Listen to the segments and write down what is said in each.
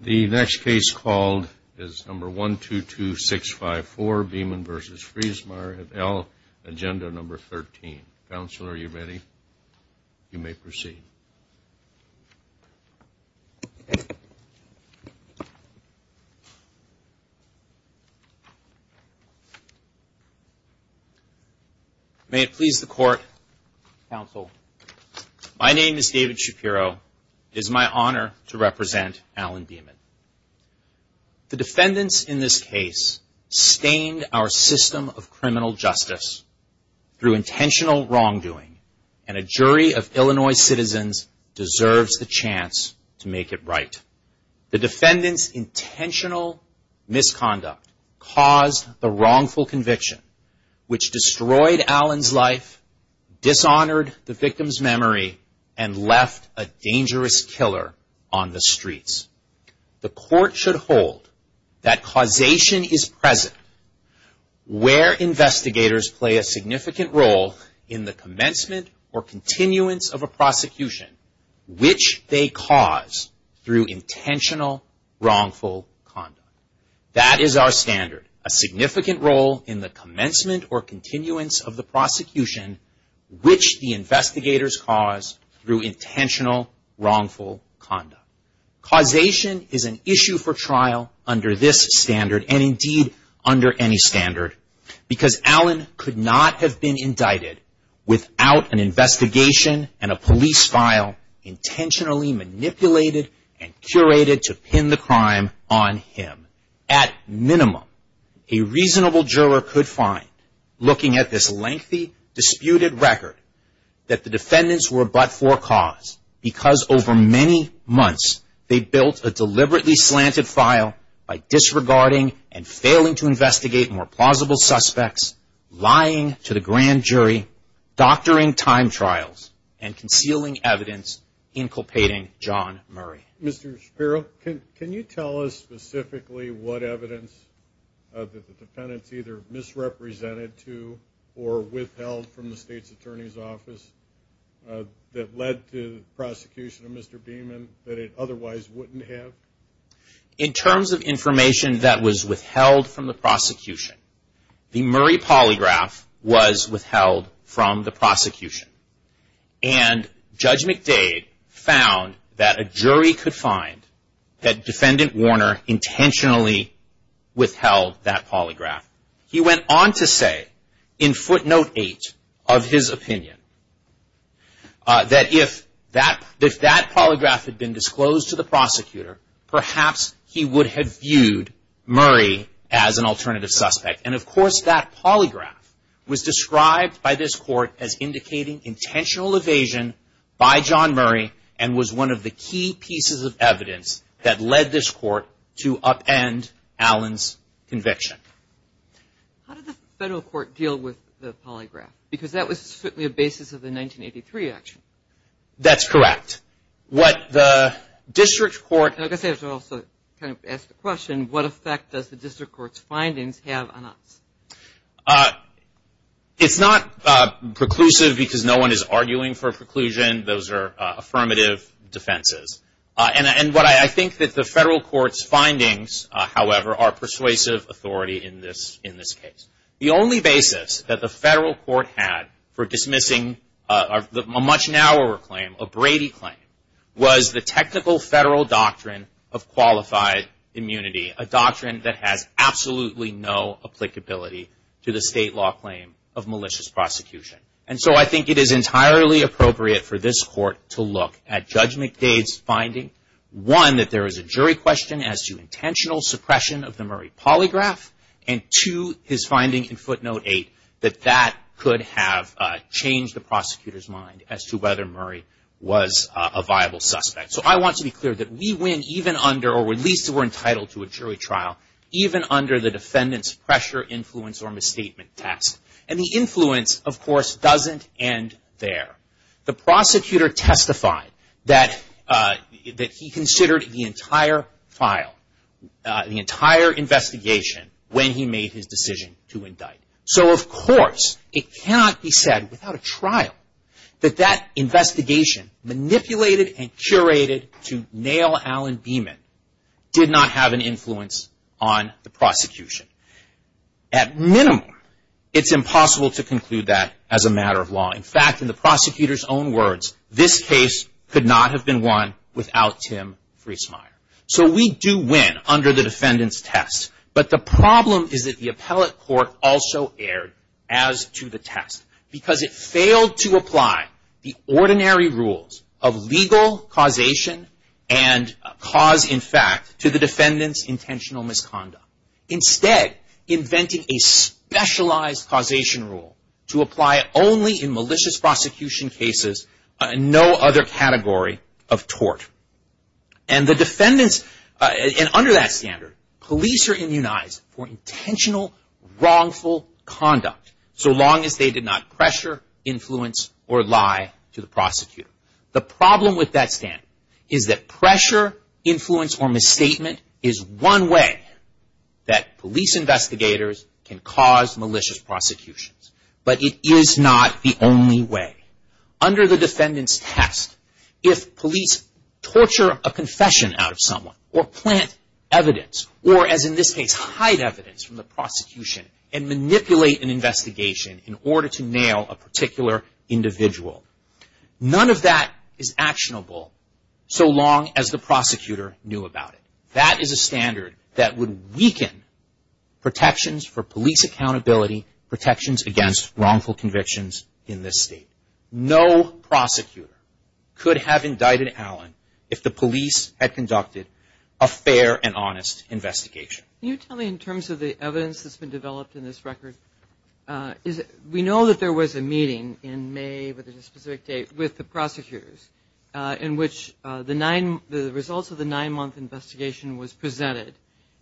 The next case called is number 122654, Beaman v. Freesmeyer at L, agenda number 13. Counsel, are you ready? You may proceed. May it please the Court, Counsel, my name is David Shapiro. It is my honor to represent Alan Beaman. The defendants in this case stained our system of criminal justice through intentional wrongdoing, and a jury of Illinois citizens deserves the chance to make it right. The defendants' intentional misconduct caused the wrongful conviction, which destroyed Alan's life, dishonored the victim's memory, and left a dangerous killer on the streets. The or continuance of a prosecution, which they cause through intentional wrongful conduct. That is our standard, a significant role in the commencement or continuance of the prosecution, which the investigators cause through intentional wrongful conduct. Causation is an issue for without an investigation and a police file intentionally manipulated and curated to pin the crime on him. At minimum, a reasonable juror could find, looking at this lengthy disputed record, that the defendants were but for cause, because over many months they built a deliberately slanted file by disregarding and failing to investigate more plausible suspects, lying to the grand jury, doctoring time trials, and concealing evidence inculpating John Murray. Mr. Shapiro, can you tell us specifically what evidence that the defendants either misrepresented to or withheld from the state's attorney's office that led to the prosecution of Mr. Beaman that it otherwise wouldn't have? In terms of information that was withheld from the prosecution, the Murray polygraph was withheld from the prosecution. And Judge McDade found that a jury could find that defendant Warner intentionally withheld that polygraph. He went on to say, in footnote 8 of his opinion, that if that polygraph had been disclosed to the prosecutor, perhaps he would have viewed Murray as an alternative suspect. And of course, that polygraph was described by this court as indicating intentional evasion by John Murray and was one of the key pieces of evidence that led this court to upend Allen's conviction. How did the federal court deal with the polygraph? Because that was certainly a basis of the 1983 action. That's correct. What the district court... I guess I should also kind of ask the question, what effect does the district court's findings have on us? It's not preclusive because no one is arguing for a preclusion. Those are affirmative defenses. And I think that the federal court's findings, however, are persuasive authority in this case. The only basis that the federal court had for dismissing a much narrower claim, a Brady claim, was the technical federal doctrine of qualified immunity, a doctrine that has absolutely no applicability to the state law claim of malicious prosecution. And so I think it is entirely appropriate for this court to look at Judge McDade's finding, one, that there is a jury question as to intentional suppression of the Murray polygraph, and two, his finding in footnote eight, that that could have changed the prosecutor's mind as to whether Murray was a viable suspect. So I want to be clear that we win even under, or at least we're entitled to a jury trial, even under the defendant's pressure, influence, or misstatement test. And the influence, of course, doesn't end there. The prosecutor testified that he considered the entire file, the entire investigation, when he made his decision to indict. So of course it cannot be said without a trial that that investigation, manipulated and curated to nail Alan Beeman, did not have an influence on the prosecution. At minimum, it's impossible to conclude that as a matter of law. In fact, in the prosecutor's own words, this case could not have been won without Tim Friesmeier. So we do win under the defendant's test. But the problem is that the appellate court also erred as to the test, because it failed to apply the ordinary rules of legal causation and cause, in fact, to the defendant's intentional misconduct. Instead, inventing a specialized causation rule to apply only in malicious prosecution cases, no other category of tort. And the defendants, and under that standard, police are immunized for intentional wrongful conduct so long as they did not pressure, influence, or lie to the prosecutor. The problem with that standard is that pressure, influence, or misstatement is one way that the prosecutions, but it is not the only way. Under the defendant's test, if police torture a confession out of someone, or plant evidence, or as in this case, hide evidence from the prosecution and manipulate an investigation in order to nail a particular individual, none of that is actionable so long as the prosecutor knew about it. That is a standard that would weaken protections for police accountability, protections against wrongful convictions in this state. No prosecutor could have indicted Allen if the police had conducted a fair and honest investigation. Can you tell me in terms of the evidence that's been developed in this record, we know that there was a meeting in May, with a specific date, with the prosecutors in which the results of the nine-month investigation was presented,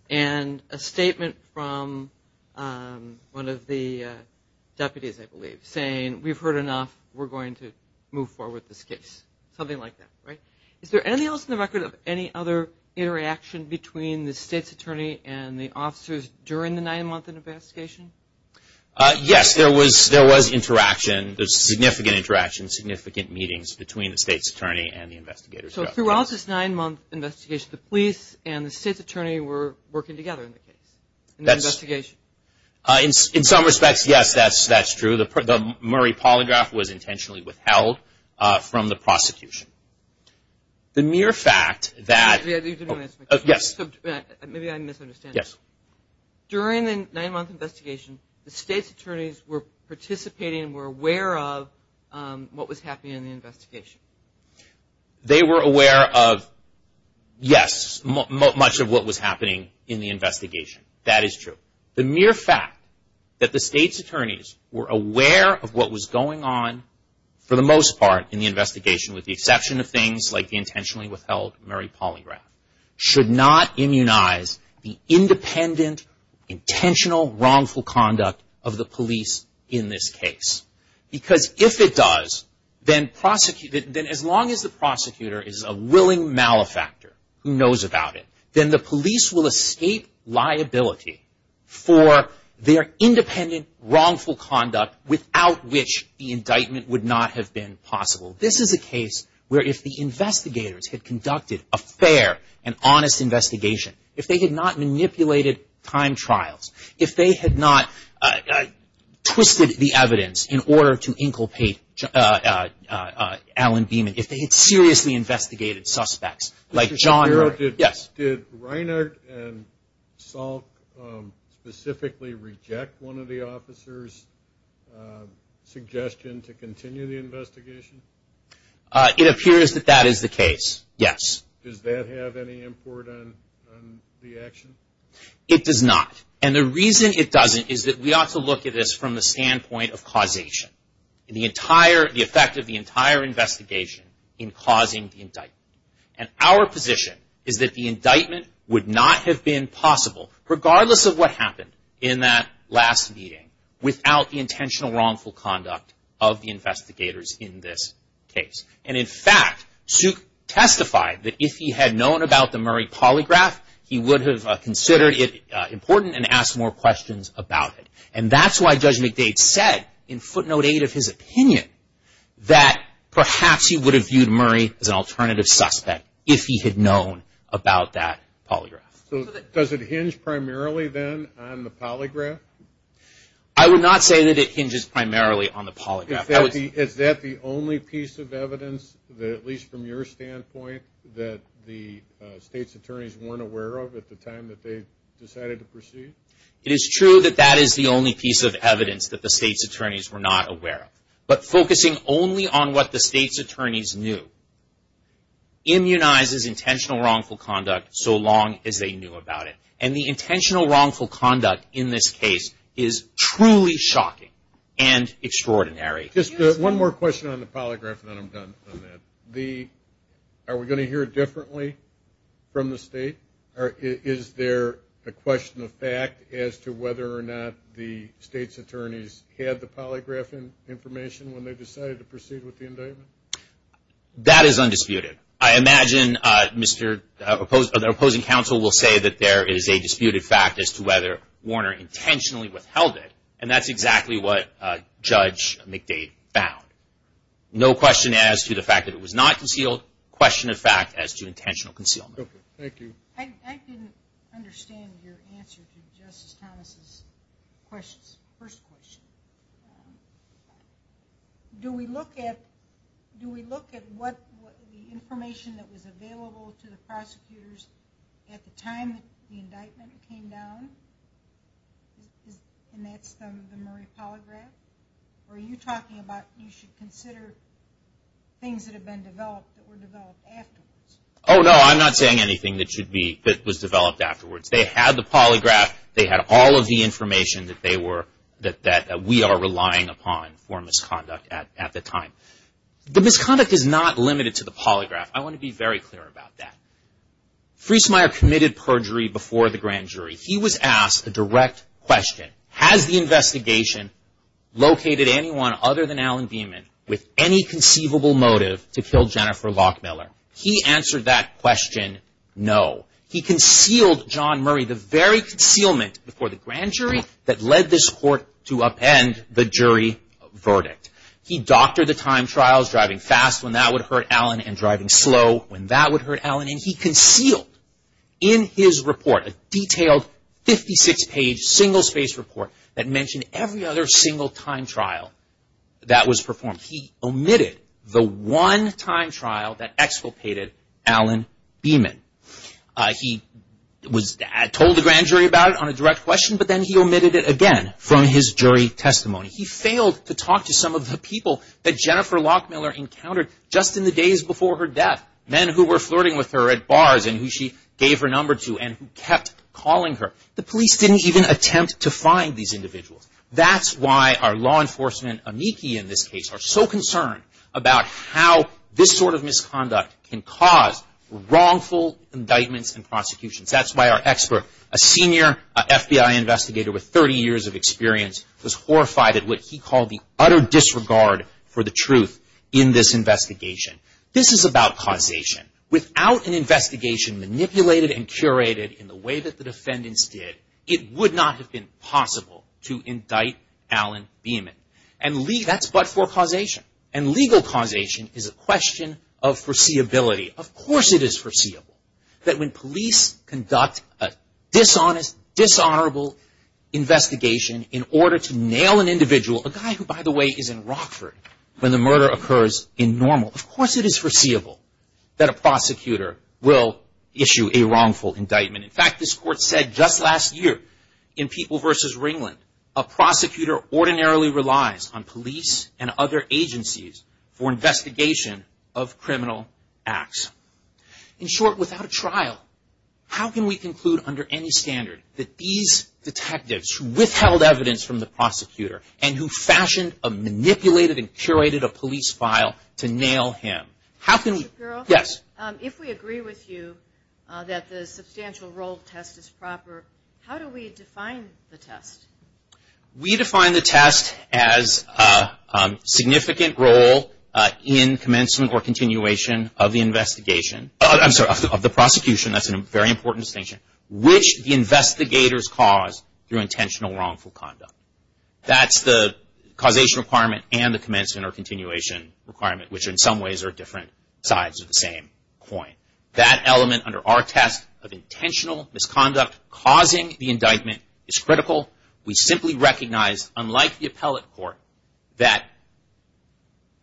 and a statement from one of the deputies, I believe, saying, we've heard enough, we're going to move forward with this case. Something like that, right? Is there anything else in the record of any other interaction between the state's attorney and the officers during the nine-month investigation? Yes, there was interaction. There's significant interaction, significant meetings between the state's attorney and the investigators. So throughout this nine-month investigation, the police and the state's attorney were working together in the case, in the investigation? In some respects, yes, that's true. The Murray polygraph was intentionally withheld from the prosecution. The mere fact that... You didn't answer my question. Maybe I'm misunderstanding. During the nine-month investigation, the state's attorneys were participating and were aware of what was happening in the investigation. They were aware of, yes, much of what was happening in the investigation. That is true. The mere fact that the state's attorneys were aware of what was going on, for the most part in the investigation, with the exception of things like the intentionally withheld Murray polygraph, should not immunize the independent, intentional, wrongful conduct of the police in this case. Because if it does, then as long as the prosecutor is a willing malefactor who knows about it, then the police will escape liability for their independent, wrongful conduct without which the indictment would not have been possible. This is a case where if the investigators had conducted a fair and honest investigation, if they had not manipulated time trials, if they had not twisted the evidence in order to inculpate Alan Beeman, if they had seriously investigated suspects like John Murray... Did Reinhart and Salk specifically reject one of the officers' suggestion to continue the investigation? It appears that that is the case, yes. Does that have any import on the action? It does not. And the reason it doesn't is that we ought to look at this from the standpoint of causation. The effect of the entire investigation in causing the indictment. And our position is that the indictment would not have been possible, regardless of what happened in that last meeting, without the intentional, wrongful conduct of the investigators in this case. And in fact, Suk testified that if he had known about the Murray polygraph, he would have considered it important and asked more questions about it. And that's why Judge McDade said, in footnote eight of his opinion, that perhaps he would have viewed Murray as an alternative suspect if he had known about that polygraph. Does it hinge primarily then on the polygraph? Is that the only piece of evidence, at least from your standpoint, that the state's attorneys weren't aware of at the time that they decided to proceed? It is true that that is the only piece of evidence that the state's attorneys were not aware of. But focusing only on what the state's attorneys knew immunizes intentional, wrongful conduct so long as they knew about it. And the intentional, wrongful conduct in this case is truly shocking and extraordinary. Just one more question on the polygraph, and then I'm done on that. Are we going to hear it differently from the state? Is there a question of fact as to whether or not the state's attorneys had the polygraph information when they decided to proceed with the indictment? That is undisputed. I imagine the opposing counsel will say that there is a disputed fact as to whether Warner intentionally withheld it, and that's exactly what Judge McDade found. No question as to the fact that it was not concealed, question of fact as to intentional concealment. Thank you. I didn't understand your answer to Justice Thomas's first question. Do we look at the information that was available to the prosecutors at the time the indictment came down? And that's the Murray polygraph? Or are you talking about you should consider things that have been developed that were developed afterwards? Oh no, I'm not saying anything that was developed afterwards. They had the polygraph. They had all of the information that we are relying upon for misconduct at the time. The misconduct is not limited to the polygraph. I want to be very clear about that. Friesmeier committed perjury before the grand jury. He was asked a direct question. Has the investigation located anyone other than Alan Beeman with any conceivable motive to kill Jennifer Lockmiller? He answered that question, no. He concealed John Murray, the very concealment before the grand jury that led this court to append the jury verdict. He doctored the time trials, driving fast when that would hurt Alan and driving slow when that would hurt Alan. And he concealed in his report a detailed 56-page single-space report that mentioned every other single time trial that was performed. He omitted the one time trial that exculpated Alan Beeman. He told the grand jury about it on a direct question, but then he omitted it again from his jury testimony. He failed to talk to some of the people that Jennifer Lockmiller encountered just in the days before her death, men who were flirting with her at bars and who she gave her number to and who kept calling her. The police didn't even attempt to find these individuals. That's why our law enforcement amici in this case are so concerned about how this sort of misconduct can cause wrongful indictments and prosecutions. That's why our expert, a senior FBI investigator with 30 years of experience, was horrified at what he called the utter disregard for the truth in this investigation. This is about causation. Without an investigation manipulated and curated in the way that the defendants did, it would not have been possible to indict Alan Beeman. And that's but for causation. And legal causation is a question of foreseeability. Of course it is foreseeable that when police conduct a dishonest, dishonorable investigation in order to nail an individual, a guy who, by the way, is in Rockford when the murder occurs in normal, of course it is foreseeable that a prosecutor will issue a wrongful indictment. In fact, this court said just last year in People v. Ringland, a prosecutor ordinarily relies on police and other agencies for investigation of criminal acts. In short, without a trial, how can we conclude under any standard that these detectives who withheld evidence from the prosecutor and who fashioned a manipulated and curated a police file to nail him, how can we... that the substantial role test is proper, how do we define the test? We define the test as a significant role in commencement or continuation of the investigation. I'm sorry, of the prosecution. That's a very important distinction. Which the investigators cause through intentional wrongful conduct. That's the causation requirement and the commencement or continuation requirement, which in some ways are different sides of the same coin. That element under our test of intentional misconduct causing the indictment is critical. We simply recognize, unlike the appellate court, that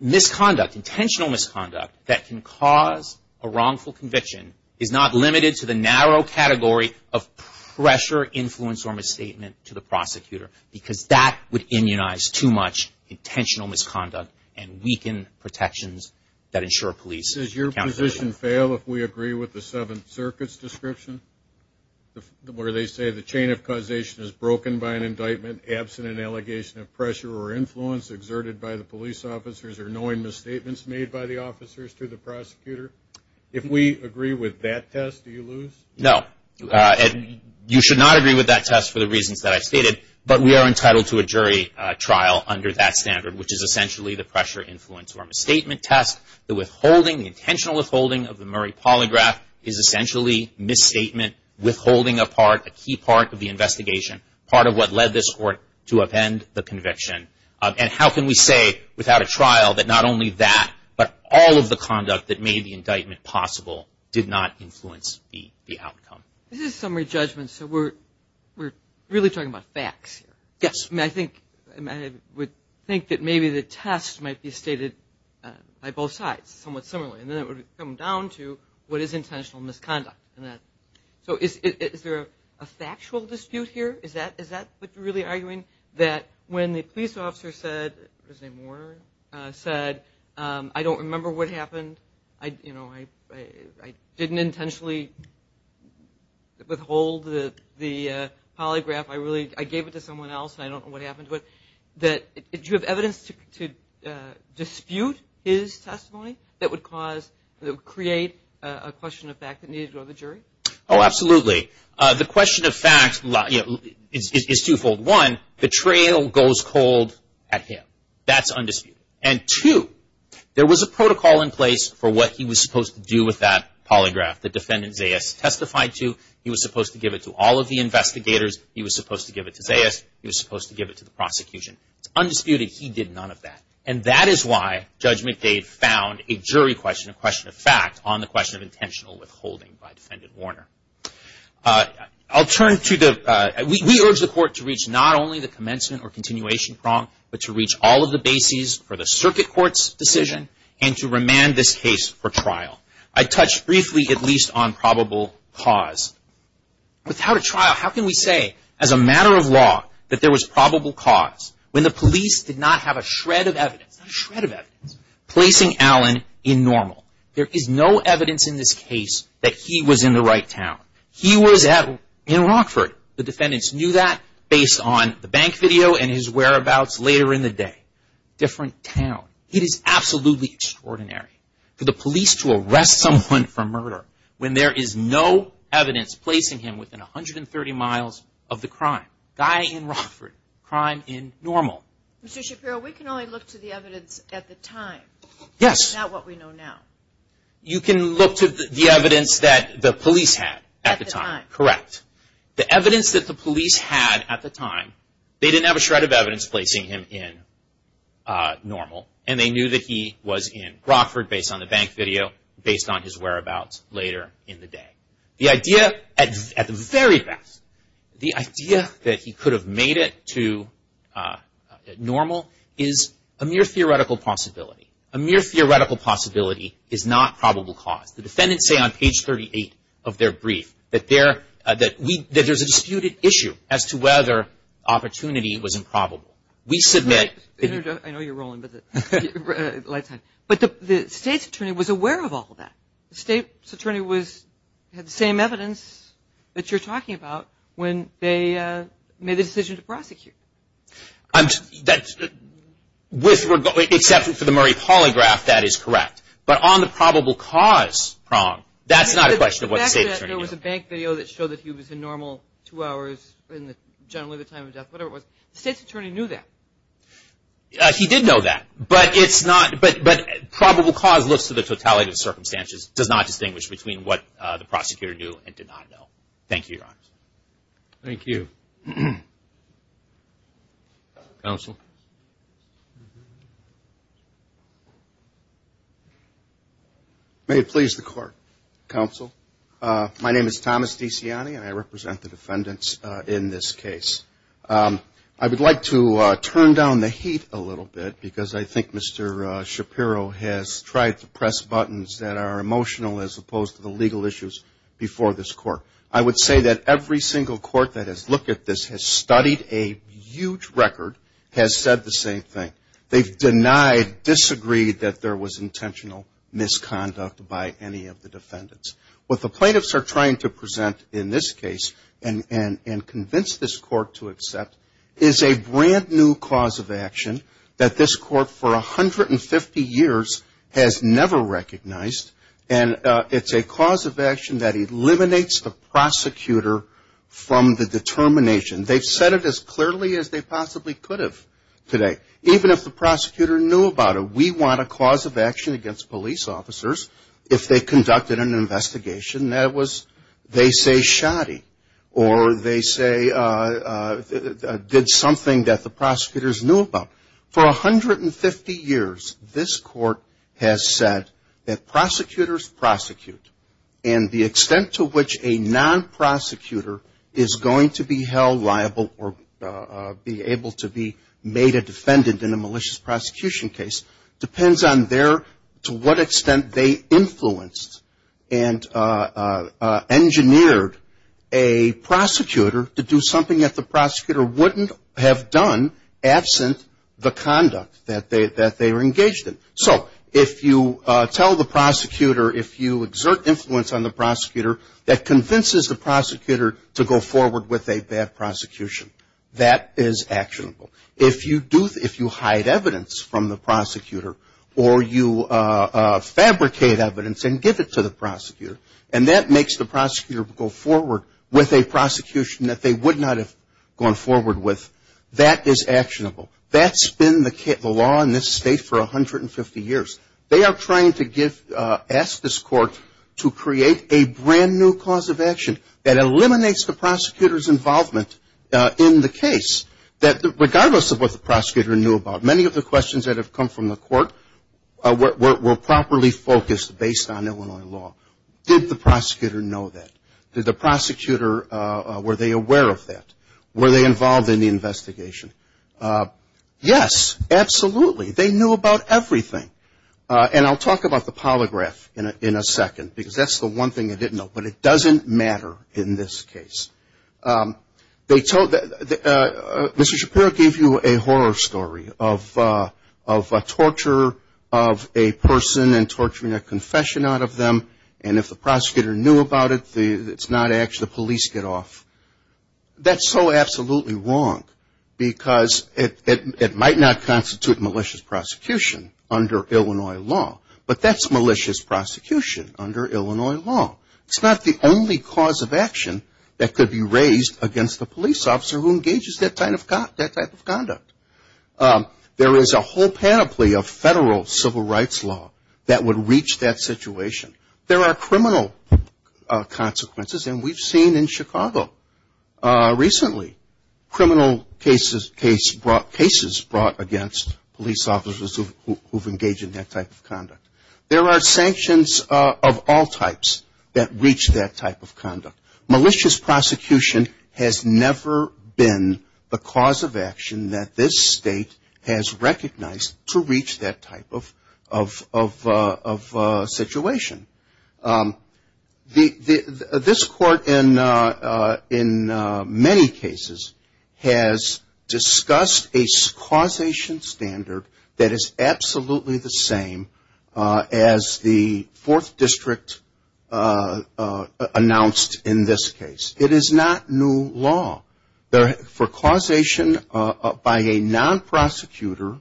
misconduct, intentional misconduct, that can cause a wrongful conviction is not limited to the narrow category of pressure, influence, or misstatement to the prosecutor because that would immunize too much intentional misconduct and weaken protections that ensure police accountability. Judge, does your position fail if we agree with the Seventh Circuit's description where they say the chain of causation is broken by an indictment, absent an allegation of pressure or influence exerted by the police officers or knowing misstatements made by the officers to the prosecutor? If we agree with that test, do you lose? No. You should not agree with that test for the reasons that I stated, but we are entitled to a jury trial under that standard, which is essentially the pressure, influence, or misstatement test. The withholding, the intentional withholding of the Murray Polygraph is essentially misstatement, withholding a part, a key part of the investigation, part of what led this court to upend the conviction. And how can we say without a trial that not only that, but all of the conduct that made the indictment possible did not influence the outcome? This is a summary judgment, so we're really talking about facts here. Yes. I would think that maybe the test might be stated by both sides somewhat similarly, and then it would come down to what is intentional misconduct. So is there a factual dispute here? Is that what you're really arguing, that when the police officer said, his name was Warner, said, I don't remember what happened, I didn't intentionally withhold the polygraph, I gave it to someone else, and I don't know what happened to it, that do you have evidence to dispute his testimony that would create a question of fact that needed to go to the jury? Oh, absolutely. The question of fact is twofold. One, the trail goes cold at him. That's undisputed. And two, there was a protocol in place for what he was supposed to do with that polygraph. The defendant, Zayas, testified to. He was supposed to give it to all of the investigators. He was supposed to give it to Zayas. He was supposed to give it to the prosecution. It's undisputed. He did none of that. And that is why Judge McDade found a jury question, a question of fact, on the question of intentional withholding by defendant Warner. I'll turn to the ‑‑ we urge the Court to reach not only the commencement or continuation prong, but to reach all of the bases for the circuit court's decision and to remand this case for trial. I touched briefly at least on probable cause. Without a trial, how can we say as a matter of law that there was probable cause when the police did not have a shred of evidence, not a shred of evidence, placing Allen in normal? There is no evidence in this case that he was in the right town. He was in Rockford. The defendants knew that based on the bank video and his whereabouts later in the day. Different town. It is absolutely extraordinary for the police to arrest someone for murder when there is no evidence placing him within 130 miles of the crime. Guy in Rockford. Crime in normal. Mr. Shapiro, we can only look to the evidence at the time. Yes. Not what we know now. You can look to the evidence that the police had at the time. At the time. Correct. The evidence that the police had at the time, they didn't have a shred of evidence placing him in normal, and they knew that he was in Rockford based on the bank video, based on his whereabouts later in the day. The idea at the very best, the idea that he could have made it to normal, is a mere theoretical possibility. A mere theoretical possibility is not probable cause. The defendants say on page 38 of their brief that there's a disputed issue as to whether opportunity was improbable. We submit. I know you're rolling, but the state's attorney was aware of all that. The state's attorney had the same evidence that you're talking about when they made the decision to prosecute. Except for the Murray polygraph, that is correct. But on the probable cause prong, that's not a question of what the state attorney knew. There was a bank video that showed that he was in normal two hours, generally the time of death, whatever it was. The state's attorney knew that. He did know that, but probable cause looks to the totality of the circumstances, does not distinguish between what the prosecutor knew and did not know. Thank you, Your Honor. Thank you. Counsel. May it please the Court, Counsel. My name is Thomas DeCiani, and I represent the defendants in this case. I would like to turn down the heat a little bit because I think Mr. Shapiro has tried to press buttons that are emotional as opposed to the legal issues before this Court. I would say that every single Court that has looked at this has studied a huge record, has said the same thing. They've denied, disagreed that there was intentional misconduct by any of the defendants. What the plaintiffs are trying to present in this case and convince this Court to accept is a brand new cause of action that this Court for 150 years has never recognized, and it's a cause of action that eliminates the prosecutor from the determination. They've said it as clearly as they possibly could have today. Even if the prosecutor knew about it, we want a cause of action against police officers if they conducted an investigation that was, they say, shoddy, or they say did something that the prosecutors knew about. For 150 years, this Court has said that prosecutors prosecute, and the extent to which a non-prosecutor is going to be held liable or be able to be made a defendant in a malicious prosecution case depends on their, to what extent they influenced and engineered a prosecutor to do something that the prosecutor wouldn't have done absent the conduct that they were engaged in. So if you tell the prosecutor, if you exert influence on the prosecutor, that convinces the prosecutor to go forward with a bad prosecution, that is actionable. If you do, if you hide evidence from the prosecutor, or you fabricate evidence and give it to the prosecutor, and that makes the prosecutor go forward with a prosecution that they would not have gone forward with, that is actionable. That's been the law in this state for 150 years. They are trying to give, ask this Court to create a brand-new cause of action that eliminates the prosecutor's involvement in the case, that regardless of what the prosecutor knew about, many of the questions that have come from the Court were properly focused based on Illinois law. Did the prosecutor know that? Did the prosecutor, were they aware of that? Were they involved in the investigation? Yes, absolutely. They knew about everything. And I'll talk about the polygraph in a second, because that's the one thing they didn't know, but it doesn't matter in this case. They told, Mr. Shapiro gave you a horror story of torture of a person and torturing a confession out of them, and if the prosecutor knew about it, it's not actually, the police get off. That's so absolutely wrong, because it might not constitute malicious prosecution under Illinois law, but that's malicious prosecution under Illinois law. It's not the only cause of action that could be raised against the police officer who engages that type of conduct. There is a whole panoply of federal civil rights law that would reach that situation. There are criminal consequences, and we've seen in Chicago recently, criminal cases brought against police officers who've engaged in that type of conduct. There are sanctions of all types that reach that type of conduct. Malicious prosecution has never been the cause of action that this state has recognized to reach that type of situation. This court, in many cases, has discussed a causation standard that is absolutely the same as the Fourth District announced in this case. It is not new law. For causation by a non-prosecutor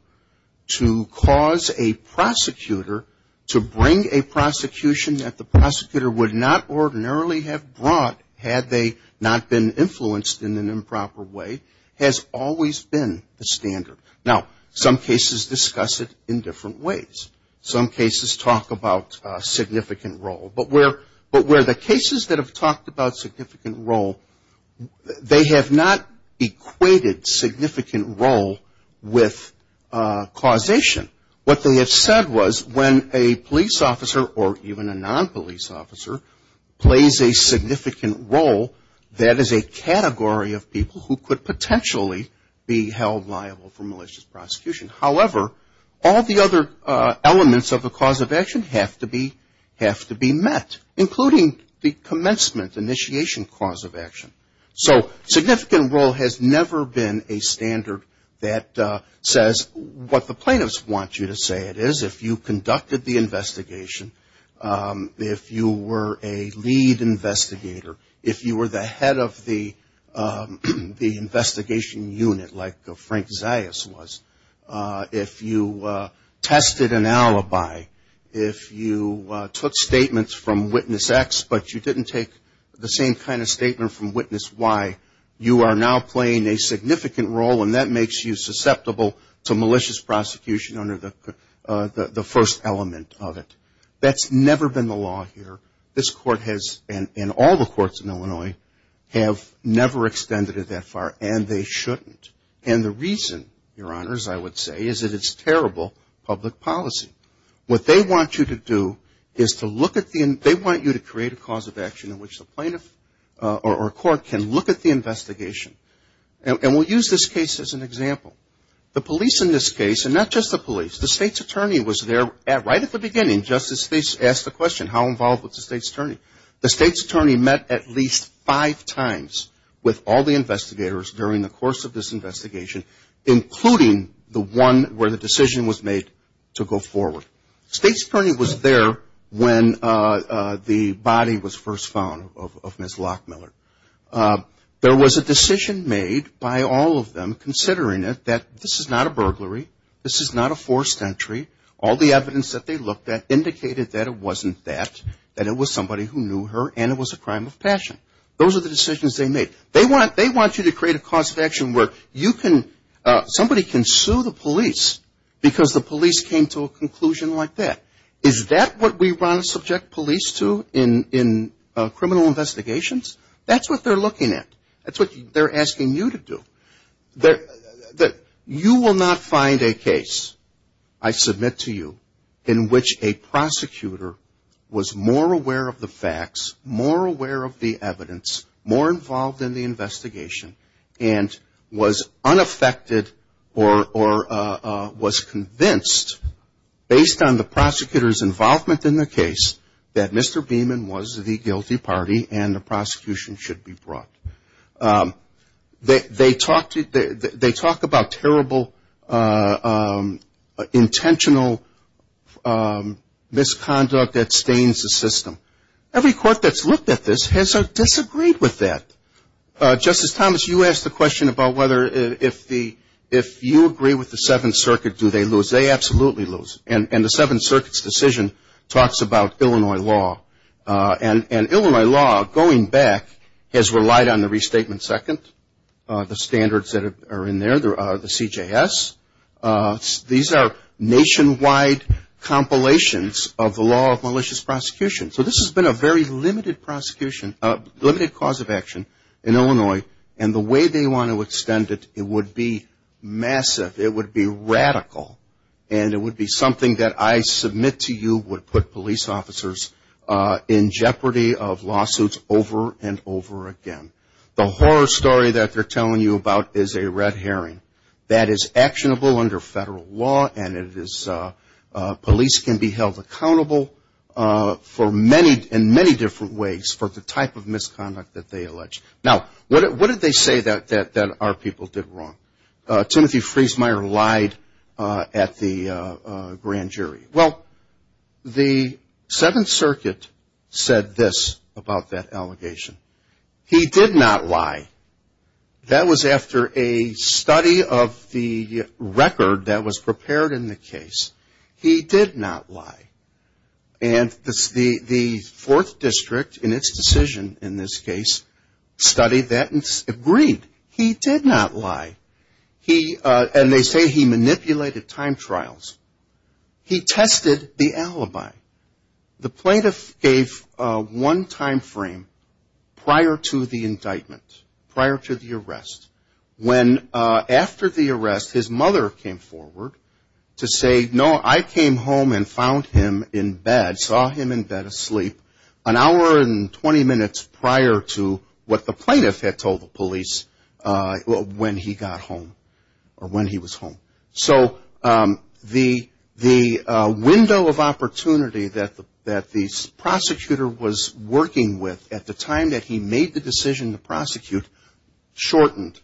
to cause a prosecutor to bring a prosecution that the prosecutor would not ordinarily have brought, had they not been influenced in an improper way, has always been the standard. Now, some cases discuss it in different ways. Some cases talk about significant role, but where the cases that have talked about significant role, they have not equated significant role with causation. What they have said was when a police officer or even a non-police officer plays a significant role, that is a category of people who could potentially be held liable for malicious prosecution. However, all the other elements of the cause of action have to be met, including the commencement, initiation cause of action. So significant role has never been a standard that says what the plaintiffs want you to say it is. If you conducted the investigation, if you were a lead investigator, if you were the head of the investigation unit like Frank Zayas was, if you tested an alibi, if you took statements from witness X, but you didn't take the same kind of statement from witness Y, you are now playing a significant role and that makes you susceptible to malicious prosecution under the first element of it. That's never been the law here. This court has, and all the courts in Illinois, have never extended it that far and they shouldn't. And the reason, Your Honors, I would say, is that it's terrible public policy. What they want you to do is to look at the, they want you to create a cause of action in which the plaintiff or court can look at the investigation. And we'll use this case as an example. The police in this case, and not just the police, the state's attorney was there right at the beginning, just as they asked the question, how involved was the state's attorney? The state's attorney met at least five times with all the investigators during the course of this investigation, including the one where the decision was made to go forward. State's attorney was there when the body was first found of Ms. Lockmiller. There was a decision made by all of them, considering it, that this is not a burglary, this is not a forced entry, all the evidence that they looked at indicated that it wasn't that, that it was somebody who knew her and it was a crime of passion. Those are the decisions they made. They want you to create a cause of action where you can, somebody can sue the police because the police came to a conclusion like that. Is that what we want to subject police to in criminal investigations? That's what they're looking at. That's what they're asking you to do. You will not find a case, I submit to you, in which a prosecutor was more aware of the facts, more aware of the evidence, more involved in the investigation, and was unaffected or was convinced, based on the prosecutor's involvement in the case, that Mr. Beeman was the guilty party and the prosecution should be brought. They talk about terrible intentional misconduct that stains the system. Every court that's looked at this has disagreed with that. Justice Thomas, you asked the question about whether, if you agree with the Seventh Circuit, do they lose? They absolutely lose, and the Seventh Circuit's decision talks about Illinois law. And Illinois law, going back, has relied on the Restatement Second, the standards that are in there, the CJS. These are nationwide compilations of the law of malicious prosecution. So this has been a very limited prosecution, limited cause of action in Illinois, and the way they want to extend it, it would be massive. It would be radical, and it would be something that I submit to you would put police officers in jeopardy of lawsuits over and over again. The horror story that they're telling you about is a red herring. That is actionable under federal law, and police can be held accountable in many different ways for the type of misconduct that they allege. Now, what did they say that our people did wrong? Timothy Friesmeier lied at the grand jury. Well, the Seventh Circuit said this about that allegation. He did not lie. That was after a study of the record that was prepared in the case. He did not lie. And the Fourth District, in its decision in this case, studied that and agreed. He did not lie. And they say he manipulated time trials. He tested the alibi. The plaintiff gave one time frame prior to the indictment, prior to the arrest. After the arrest, his mother came forward to say, no, I came home and found him in bed, saw him in bed asleep, an hour and 20 minutes prior to what the plaintiff had told the police when he got home. So the window of opportunity that the prosecutor was working with at the time that he made the decision to prosecute shortened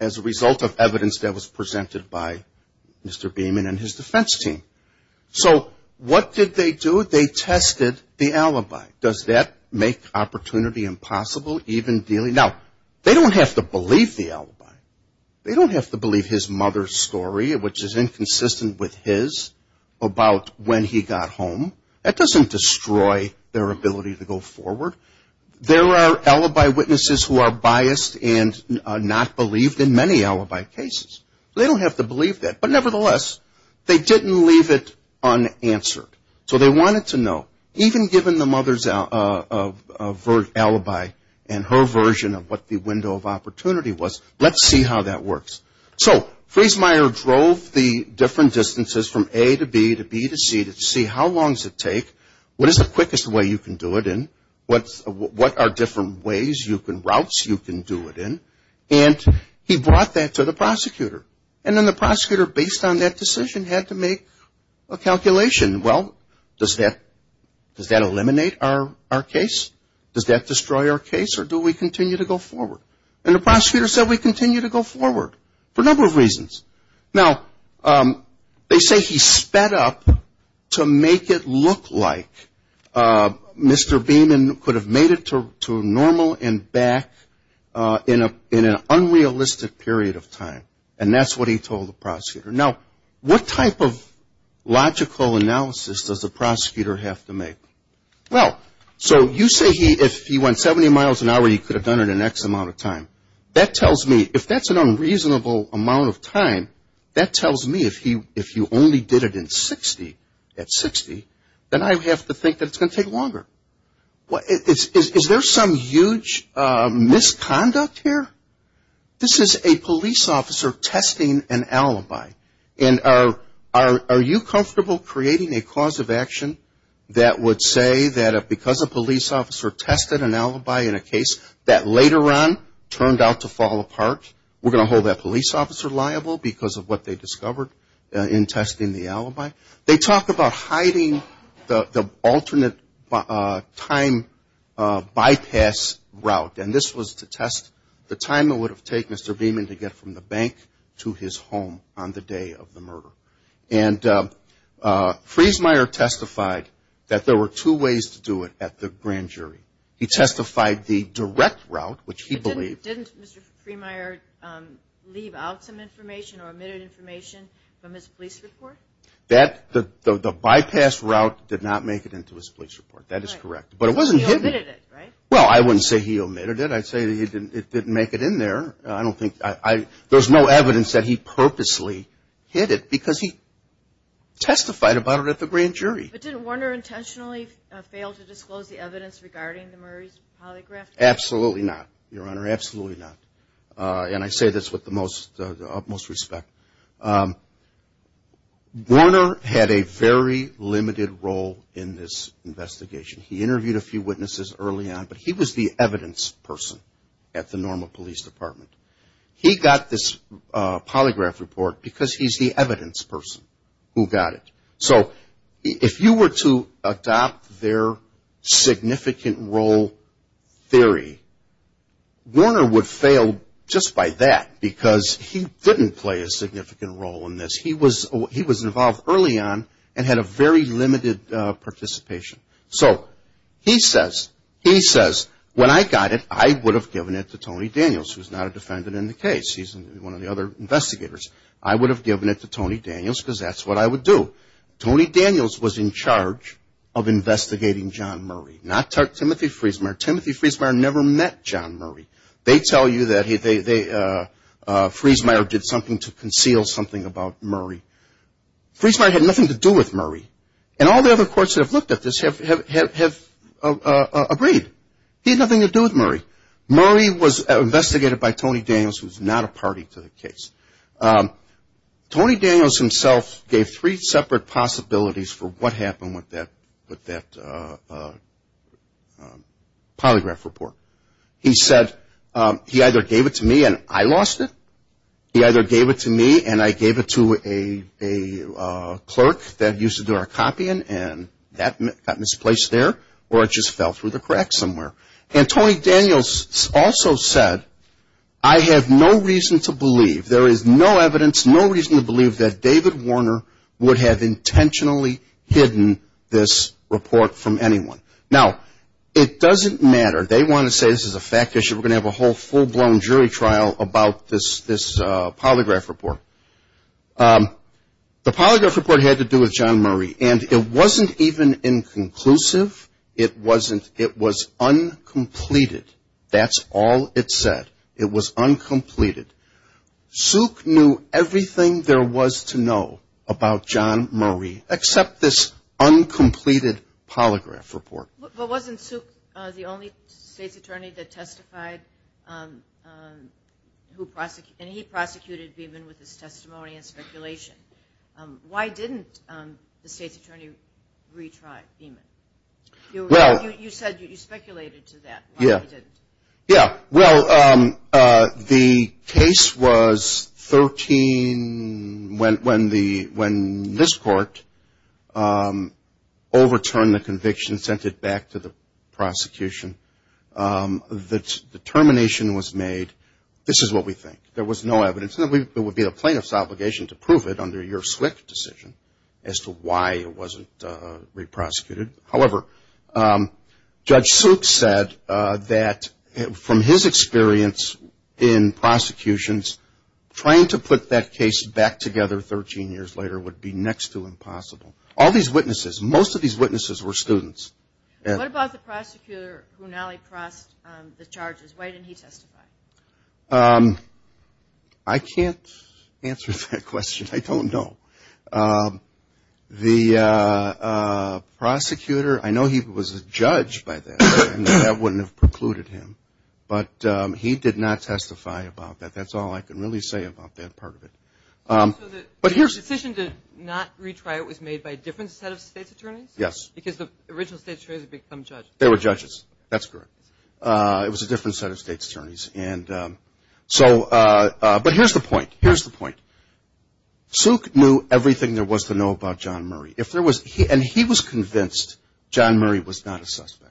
as a result of evidence that was presented by Mr. Beaman and his defense team. So what did they do? They tested the alibi. Does that make opportunity impossible? Now, they don't have to believe the alibi. They don't have to believe his mother's story, which is inconsistent with his, about when he got home. That doesn't destroy their ability to go forward. There are alibi witnesses who are biased and not believed in many alibi cases. They don't have to believe that. But nevertheless, they didn't leave it unanswered. So they wanted to know, even given the mother's alibi and her version of what the window of opportunity was, let's see how that works. So Friesmeier drove the different distances from A to B to B to C to see how long does it take, what is the quickest way you can do it in, and he brought that to the prosecutor. And then the prosecutor, based on that decision, had to make a calculation. Well, does that eliminate our case? Does that destroy our case or do we continue to go forward? And the prosecutor said we continue to go forward for a number of reasons. Now, they say he sped up to make it look like Mr. Beaman could have made it to normal and back in an unrealistic period of time. And that's what he told the prosecutor. Now, what type of logical analysis does the prosecutor have to make? Well, so you say if he went 70 miles an hour, he could have done it in X amount of time. That tells me, if that's an unreasonable amount of time, that tells me if he only did it in 60 at 60, then I have to think that it's going to take longer. Is there some huge misconduct here? This is a police officer testing an alibi. And are you comfortable creating a cause of action that would say that because a police officer tested an alibi in a case that later on turned out to fall apart, we're going to hold that police officer liable because of what they discovered in testing the alibi? They talk about hiding the alternate time bypass route. And this was to test the time it would have taken Mr. Beaman to get from the bank to his home on the day of the murder. And Friesmeier testified that there were two ways to do it at the grand jury. He testified the direct route, which he believed. Didn't Mr. Friesmeier leave out some information or omit information from his police report? The bypass route did not make it into his police report. That is correct. He omitted it, right? Well, I wouldn't say he omitted it. I'd say it didn't make it in there. There's no evidence that he purposely hid it because he testified about it at the grand jury. But didn't Warner intentionally fail to disclose the evidence regarding the Murray's polygraph test? Absolutely not, Your Honor. Absolutely not. And I say this with the utmost respect. Warner had a very limited role in this investigation. He interviewed a few witnesses early on, but he was the evidence person at the normal police department. He got this polygraph report because he's the evidence person who got it. So if you were to adopt their significant role theory, Warner would fail just by that because he didn't play a significant role in this. He was involved early on and had a very limited participation. So he says, when I got it, I would have given it to Tony Daniels, who's not a defendant in the case. He's one of the other investigators. I would have given it to Tony Daniels because that's what I would do. Tony Daniels was in charge of investigating John Murray, not Timothy Friesmeier. Timothy Friesmeier never met John Murray. They tell you that Friesmeier did something to conceal something about Murray. Friesmeier had nothing to do with Murray. And all the other courts that have looked at this have agreed. He had nothing to do with Murray. Murray was investigated by Tony Daniels, who's not a party to the case. Tony Daniels himself gave three separate possibilities for what happened with that polygraph report. He said he either gave it to me and I lost it. He either gave it to me and I gave it to a clerk that used to do our copying and that got misplaced there or it just fell through the cracks somewhere. And Tony Daniels also said, I have no reason to believe, there is no evidence, no reason to believe that David Warner would have intentionally hidden this report from anyone. Now, it doesn't matter. They want to say this is a fact issue. We're going to have a whole full-blown jury trial about this polygraph report. The polygraph report had to do with John Murray, and it wasn't even inconclusive. It was uncompleted. That's all it said. It was uncompleted. Suk knew everything there was to know about John Murray except this uncompleted polygraph report. But wasn't Suk the only state's attorney that testified and he prosecuted Beeman with his testimony and speculation? Why didn't the state's attorney retry Beeman? You said you speculated to that. Yeah, well, the case was 13 when this court overturned the conviction, sent it back to the prosecution. The determination was made, this is what we think. There was no evidence. There would be a plaintiff's obligation to prove it under your SWCC decision as to why it wasn't re-prosecuted. However, Judge Suk said that from his experience in prosecutions, trying to put that case back together 13 years later would be next to impossible. All these witnesses, most of these witnesses were students. What about the prosecutor who now repressed the charges? Why didn't he testify? I can't answer that question. I don't know. The prosecutor, I know he was a judge by then and that wouldn't have precluded him. But he did not testify about that. That's all I can really say about that part of it. So the decision to not retry it was made by a different set of state's attorneys? Yes. Because the original state's attorneys had become judges. They were judges, that's correct. It was a different set of state's attorneys. But here's the point. Suk knew everything there was to know about John Murray. And he was convinced John Murray was not a suspect.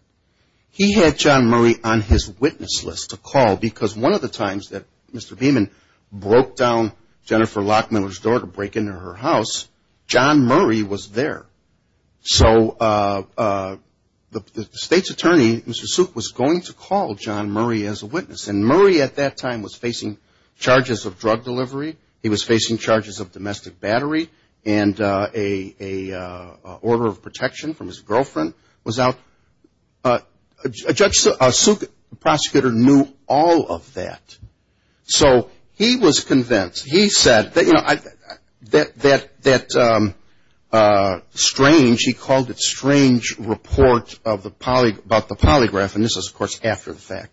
He had John Murray on his witness list to call. Because one of the times that Mr. Beeman broke down Jennifer Lockmiller's door to break into her house, John Murray was there. So the state's attorney, Mr. Suk, was going to call John Murray as a witness. And Murray at that time was facing charges of drug delivery. He was facing charges of domestic battery. And an order of protection from his girlfriend was out. Judge Suk, the prosecutor, knew all of that. So he was convinced. He said that strange, he called it strange report about the polygraph. And this is, of course, after the fact.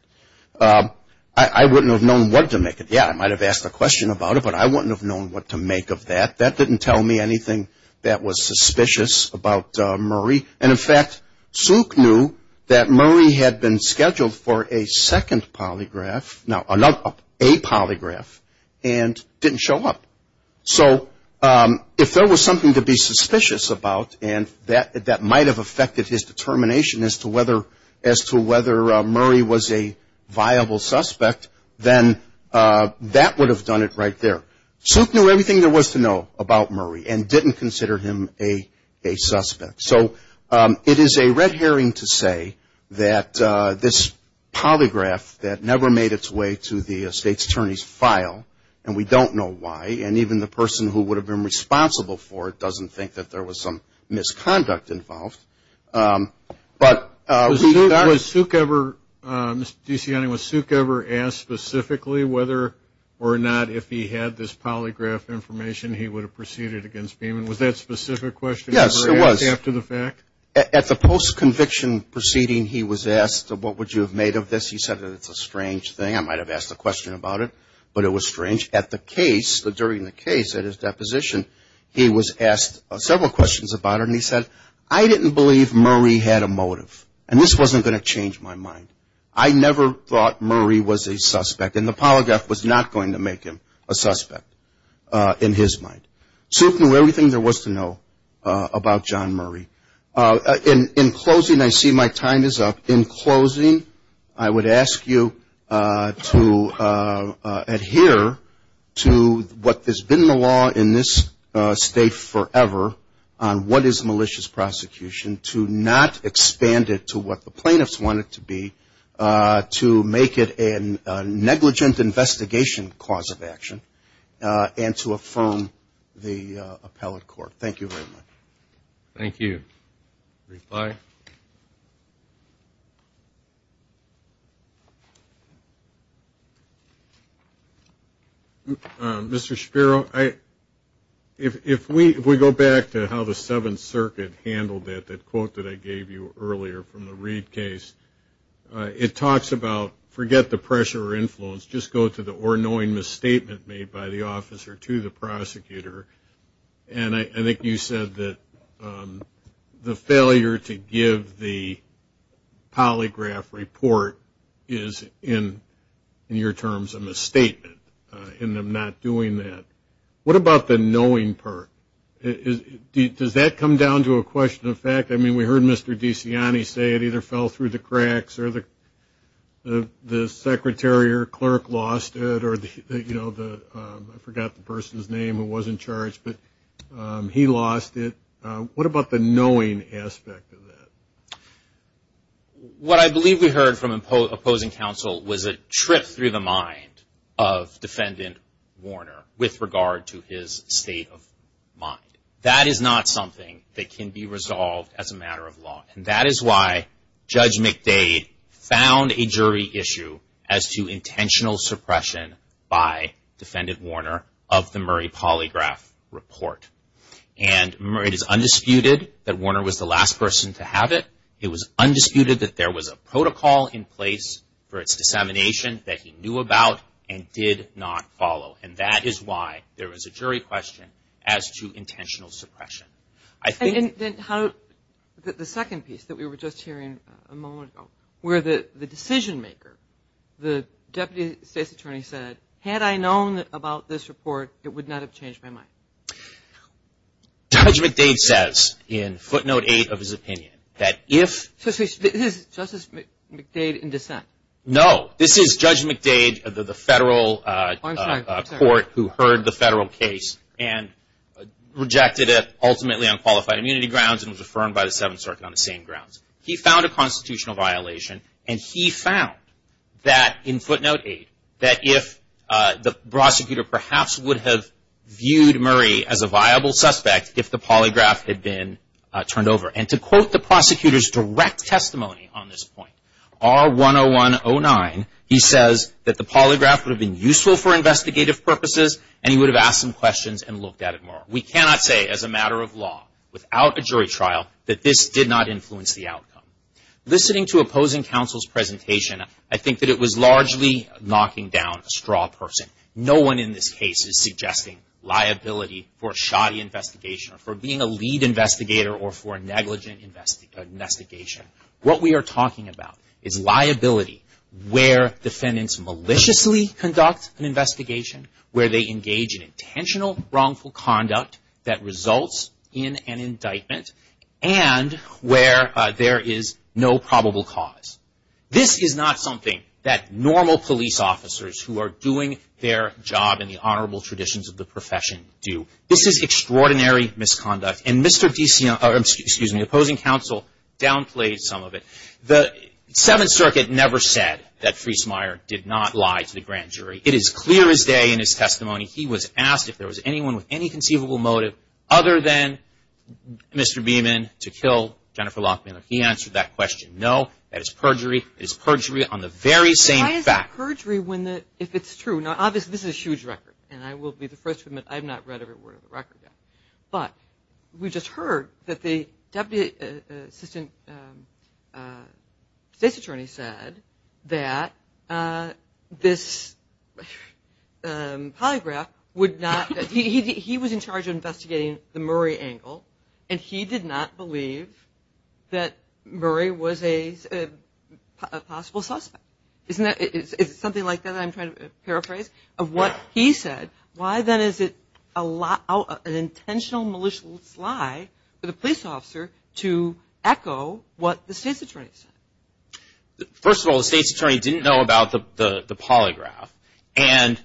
I wouldn't have known what to make of that. That didn't tell me anything that was suspicious about Murray. And in fact, Suk knew that Murray had been scheduled for a second polygraph, not a polygraph, and didn't show up. So if there was something to be suspicious about, and that might have affected his determination as to whether Murray was a viable suspect, then that would have done it right there. Suk knew everything there was to know about Murray and didn't consider him a suspect. So it is a red herring to say that this polygraph that never made its way to the state's attorney's file, and we don't know why, and even the person who would have been responsible for it doesn't think that there was some misconduct involved. Was Suk ever asked specifically whether or not if he had this polygraph information, he would have proceeded against him? Was that specific question ever asked after the fact? At the post-conviction proceeding, he was asked, what would you have made of this? He said that it's a strange thing. I might have asked a question about it, but it was strange. At the case, during the case, at his deposition, he was asked several questions about it, and he said, I didn't believe Murray had a motive. And this wasn't going to change my mind. I never thought Murray was a suspect, and the polygraph was not going to make him a suspect, in his mind. Suk knew everything there was to know about John Murray. In closing, I see my time is up. In closing, I would ask you to adhere to what has been the law in this state forever, on what is malicious prosecution, to not expand it to what the plaintiffs want it to be, to make it a negligent investigation cause of action, and to affirm the appellate court. Thank you very much. Thank you. Mr. Spiro, if we go back to how the Seventh Circuit handled that, that quote that I gave you earlier from the Reid case, it talks about, forget the pressure or influence, just go to the or knowing misstatement made by the officer to the prosecutor. And I think you said that the failure to give the polygraph report is, in your terms, a misstatement in them not doing that. What about the knowing part? Does that come down to a question of fact? I mean, we heard Mr. DeCiani say it either fell through the cracks or the secretary or clerk lost it, or I forgot the person's name who was in charge, but he lost it. What about the knowing aspect of that? What I believe we heard from opposing counsel was a trip through the mind of defendant Warner with regard to his state of mind. That is not something that can be resolved as a matter of law. And that is why Judge McDade found a jury issue as to intentional suppression by defendant Warner of the Murray polygraph report. And it is undisputed that Warner was the last person to have it. It was undisputed that there was a protocol in place for its dissemination that he knew about and did not follow. And that is why there is a jury question as to intentional suppression. And then the second piece that we were just hearing a moment ago, where the decision maker, the deputy state's attorney said, had I known about this report, it would not have changed my mind. Judge McDade says in footnote eight of his opinion that if... Is this Justice McDade in dissent? No, this is Judge McDade, the federal court who heard the federal case and rejected it ultimately on qualified immunity grounds and was affirmed by the Seventh Circuit on the same grounds. He found a constitutional violation and he found that in footnote eight, that if the prosecutor perhaps would have viewed Murray as a viable suspect if the polygraph had been turned over. And to quote the prosecutor's direct testimony on this point, R-101-09, he says that the polygraph would have been useful for investigative purposes and he would have asked some questions and looked at it more. We cannot say as a matter of law without a jury trial that this did not influence the outcome. Listening to opposing counsel's presentation, I think that it was largely knocking down a straw person. No one in this case is suggesting liability for a shoddy investigation or for being a lead investigator or for a negligent investigation. What we are talking about is liability where defendants maliciously conduct an investigation, where they engage in intentional wrongful conduct that results in an indictment and where there is no probable cause. This is not something that normal police officers who are doing their job in the honorable traditions of the profession do. This is extraordinary misconduct. And the opposing counsel downplayed some of it. The Seventh Circuit never said that Friesmeier did not lie to the grand jury. It is clear as day in his testimony he was asked if there was anyone with any conceivable motive other than Mr. Beeman to kill Jennifer Lockmeyer. He answered that question, no, that is perjury. It is perjury on the very same fact. It is not perjury if it is true. Now obviously this is a huge record and I will be the first to admit I have not read every word of the record yet. But we just heard that the Deputy Assistant State's Attorney said that this polygraph would not, he was in charge of investigating the Murray angle and he did not believe that Murray was a possible suspect. Isn't that, is it something like that I am trying to paraphrase of what he said? Why then is it an intentional malicious lie for the police officer to echo what the State's Attorney said? First of all, the State's Attorney didn't know about the polygraph. And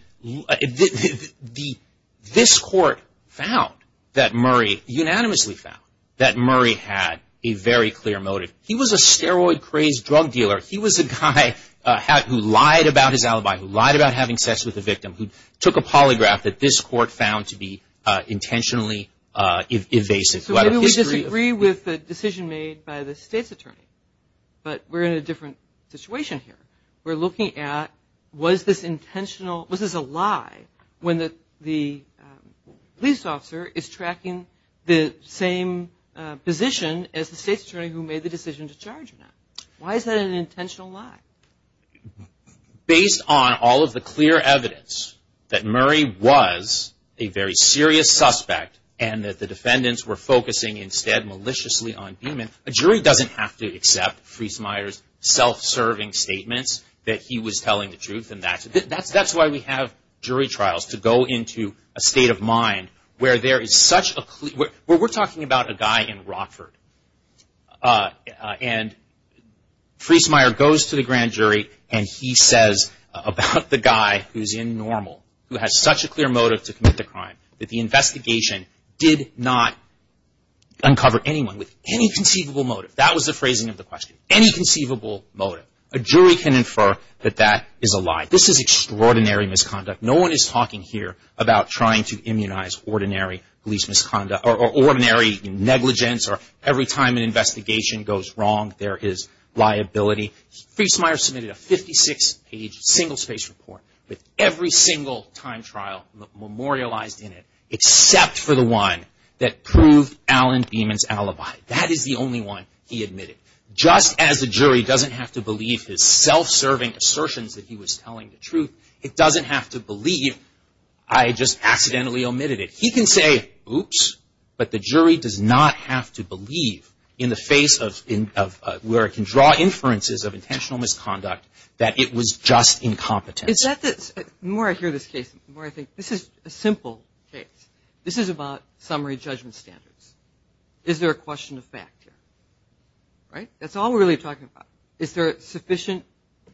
this court found that Murray, unanimously found that Murray had a very clear motive. He was a steroid crazed drug dealer. He was a guy who lied about his alibi, who lied about having sex with a victim, who took a polygraph that this court found to be intentionally invasive. So maybe we disagree with the decision made by the State's Attorney, but we are in a different situation here. We are looking at was this intentional, was this a lie when the police officer is tracking the same position as the State's Attorney who made the decision to charge him? Why is that an intentional lie? Based on all of the clear evidence that Murray was a very serious suspect and that the defendants were focusing instead maliciously on Beeman, a jury doesn't have to accept Friesmeier's self-serving statements that he was telling the truth. That's why we have jury trials, to go into a state of mind where there is such a clear, where we're talking about a guy in Rockford and Friesmeier goes to the grand jury and he says about the guy who's in normal, who has such a clear motive to commit the crime, that the investigation did not uncover anyone with any conceivable motive. That was the phrasing of the question, any conceivable motive. A jury can infer that that is a lie. This is extraordinary misconduct. No one is talking here about trying to immunize ordinary police misconduct or ordinary negligence or every time an investigation goes wrong, there is liability. Friesmeier submitted a 56-page single-space report with every single time trial memorialized in it, except for the one that proved Alan Beeman's alibi. That is the only one he admitted. Just as the jury doesn't have to believe his self-serving assertions that he was telling the truth, it doesn't have to believe I just accidentally omitted it. He can say, oops, but the jury does not have to believe in the face of, where it can draw inferences of intentional misconduct, that it was just incompetence. Is that the, the more I hear this case, the more I think this is a simple case. This is about summary judgment standards. Is there a question of fact here? Right? That's all we're really talking about. Is there sufficient,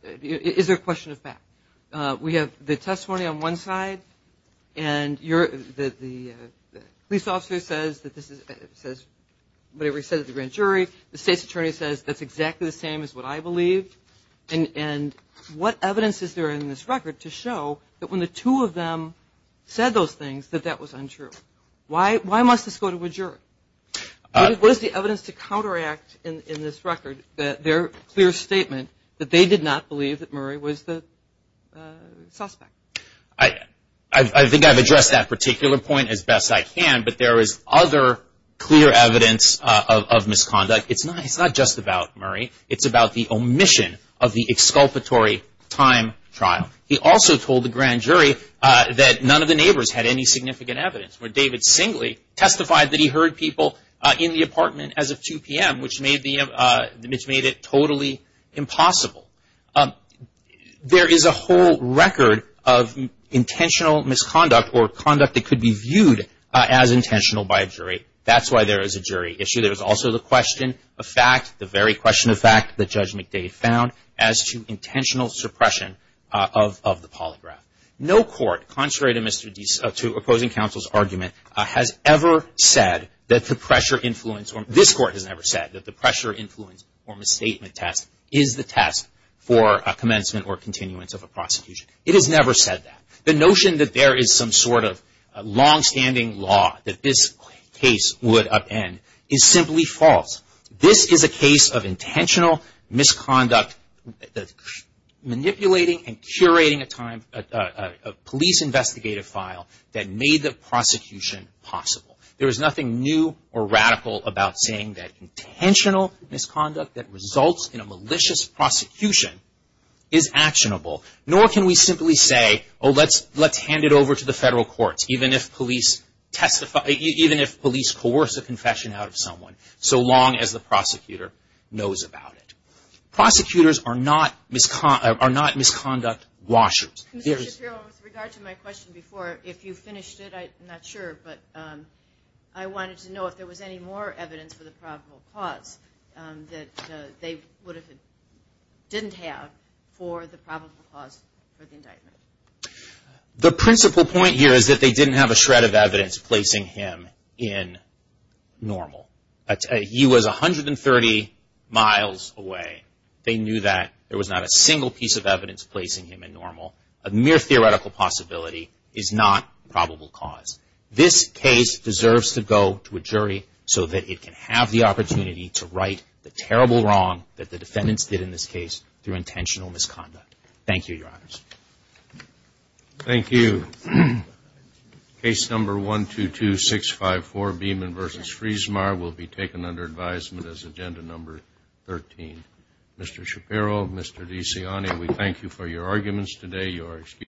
is there a question of fact? We have the testimony on one side, and you're, the police officer says that this is, says whatever he said to the grand jury. The state's attorney says that's exactly the same as what I believe. And what evidence is there in this record to show that when the two of them said those things, that that was untrue? Why must this go to a jury? What is the evidence to counteract in, in this record that their clear statement that they did not believe that Murray was the suspect? I, I think I've addressed that particular point as best I can, but there is other clear evidence of, of misconduct. It's not, it's not just about Murray. It's about the omission of the exculpatory time trial. He also told the grand jury that none of the neighbors had any significant evidence, where David Singley testified that he heard people in the apartment as of 2 p.m., which made the, which made it totally impossible. There is a whole record of intentional misconduct or conduct that could be viewed as intentional by a jury. That's why there is a jury issue. There's also the question of fact, the very question of fact that Judge McDade found, as to intentional suppression of, of the polygraph. No court, contrary to Mr. Deese, to opposing counsel's argument, has ever said that the pressure influence, or this court has never said that the pressure influence or misstatement test is the test for a commencement or continuance of a prosecution. It has never said that. The notion that there is some sort of longstanding law that this case would upend is simply false. This is a case of intentional misconduct, manipulating and curating a police investigative file that made the prosecution possible. There is nothing new or radical about saying that intentional misconduct that results in a malicious prosecution is actionable, nor can we simply say, oh, let's hand it over to the federal courts, even if police coerce a confession out of someone, so long as the prosecutor knows about it. Prosecutors are not misconduct washers. Mr. Shapiro, with regard to my question before, if you finished it, I'm not sure, but I wanted to know if there was any more evidence for the probable cause that they would have, didn't have for the probable cause for the indictment. The principal point here is that they didn't have a shred of evidence placing him in normal. He was 130 miles away. They knew that. There was not a single piece of evidence placing him in normal. A mere theoretical possibility is not probable cause. This case deserves to go to a jury so that it can have the opportunity to right the terrible wrong that the defendants did in this case through intentional misconduct. Thank you, Your Honors. Thank you. Case number 122654, Beeman v. Friesmaier, will be taken under advisement as agenda number 13. Mr. Shapiro, Mr. DeCiani, we thank you for your arguments today. You are excused.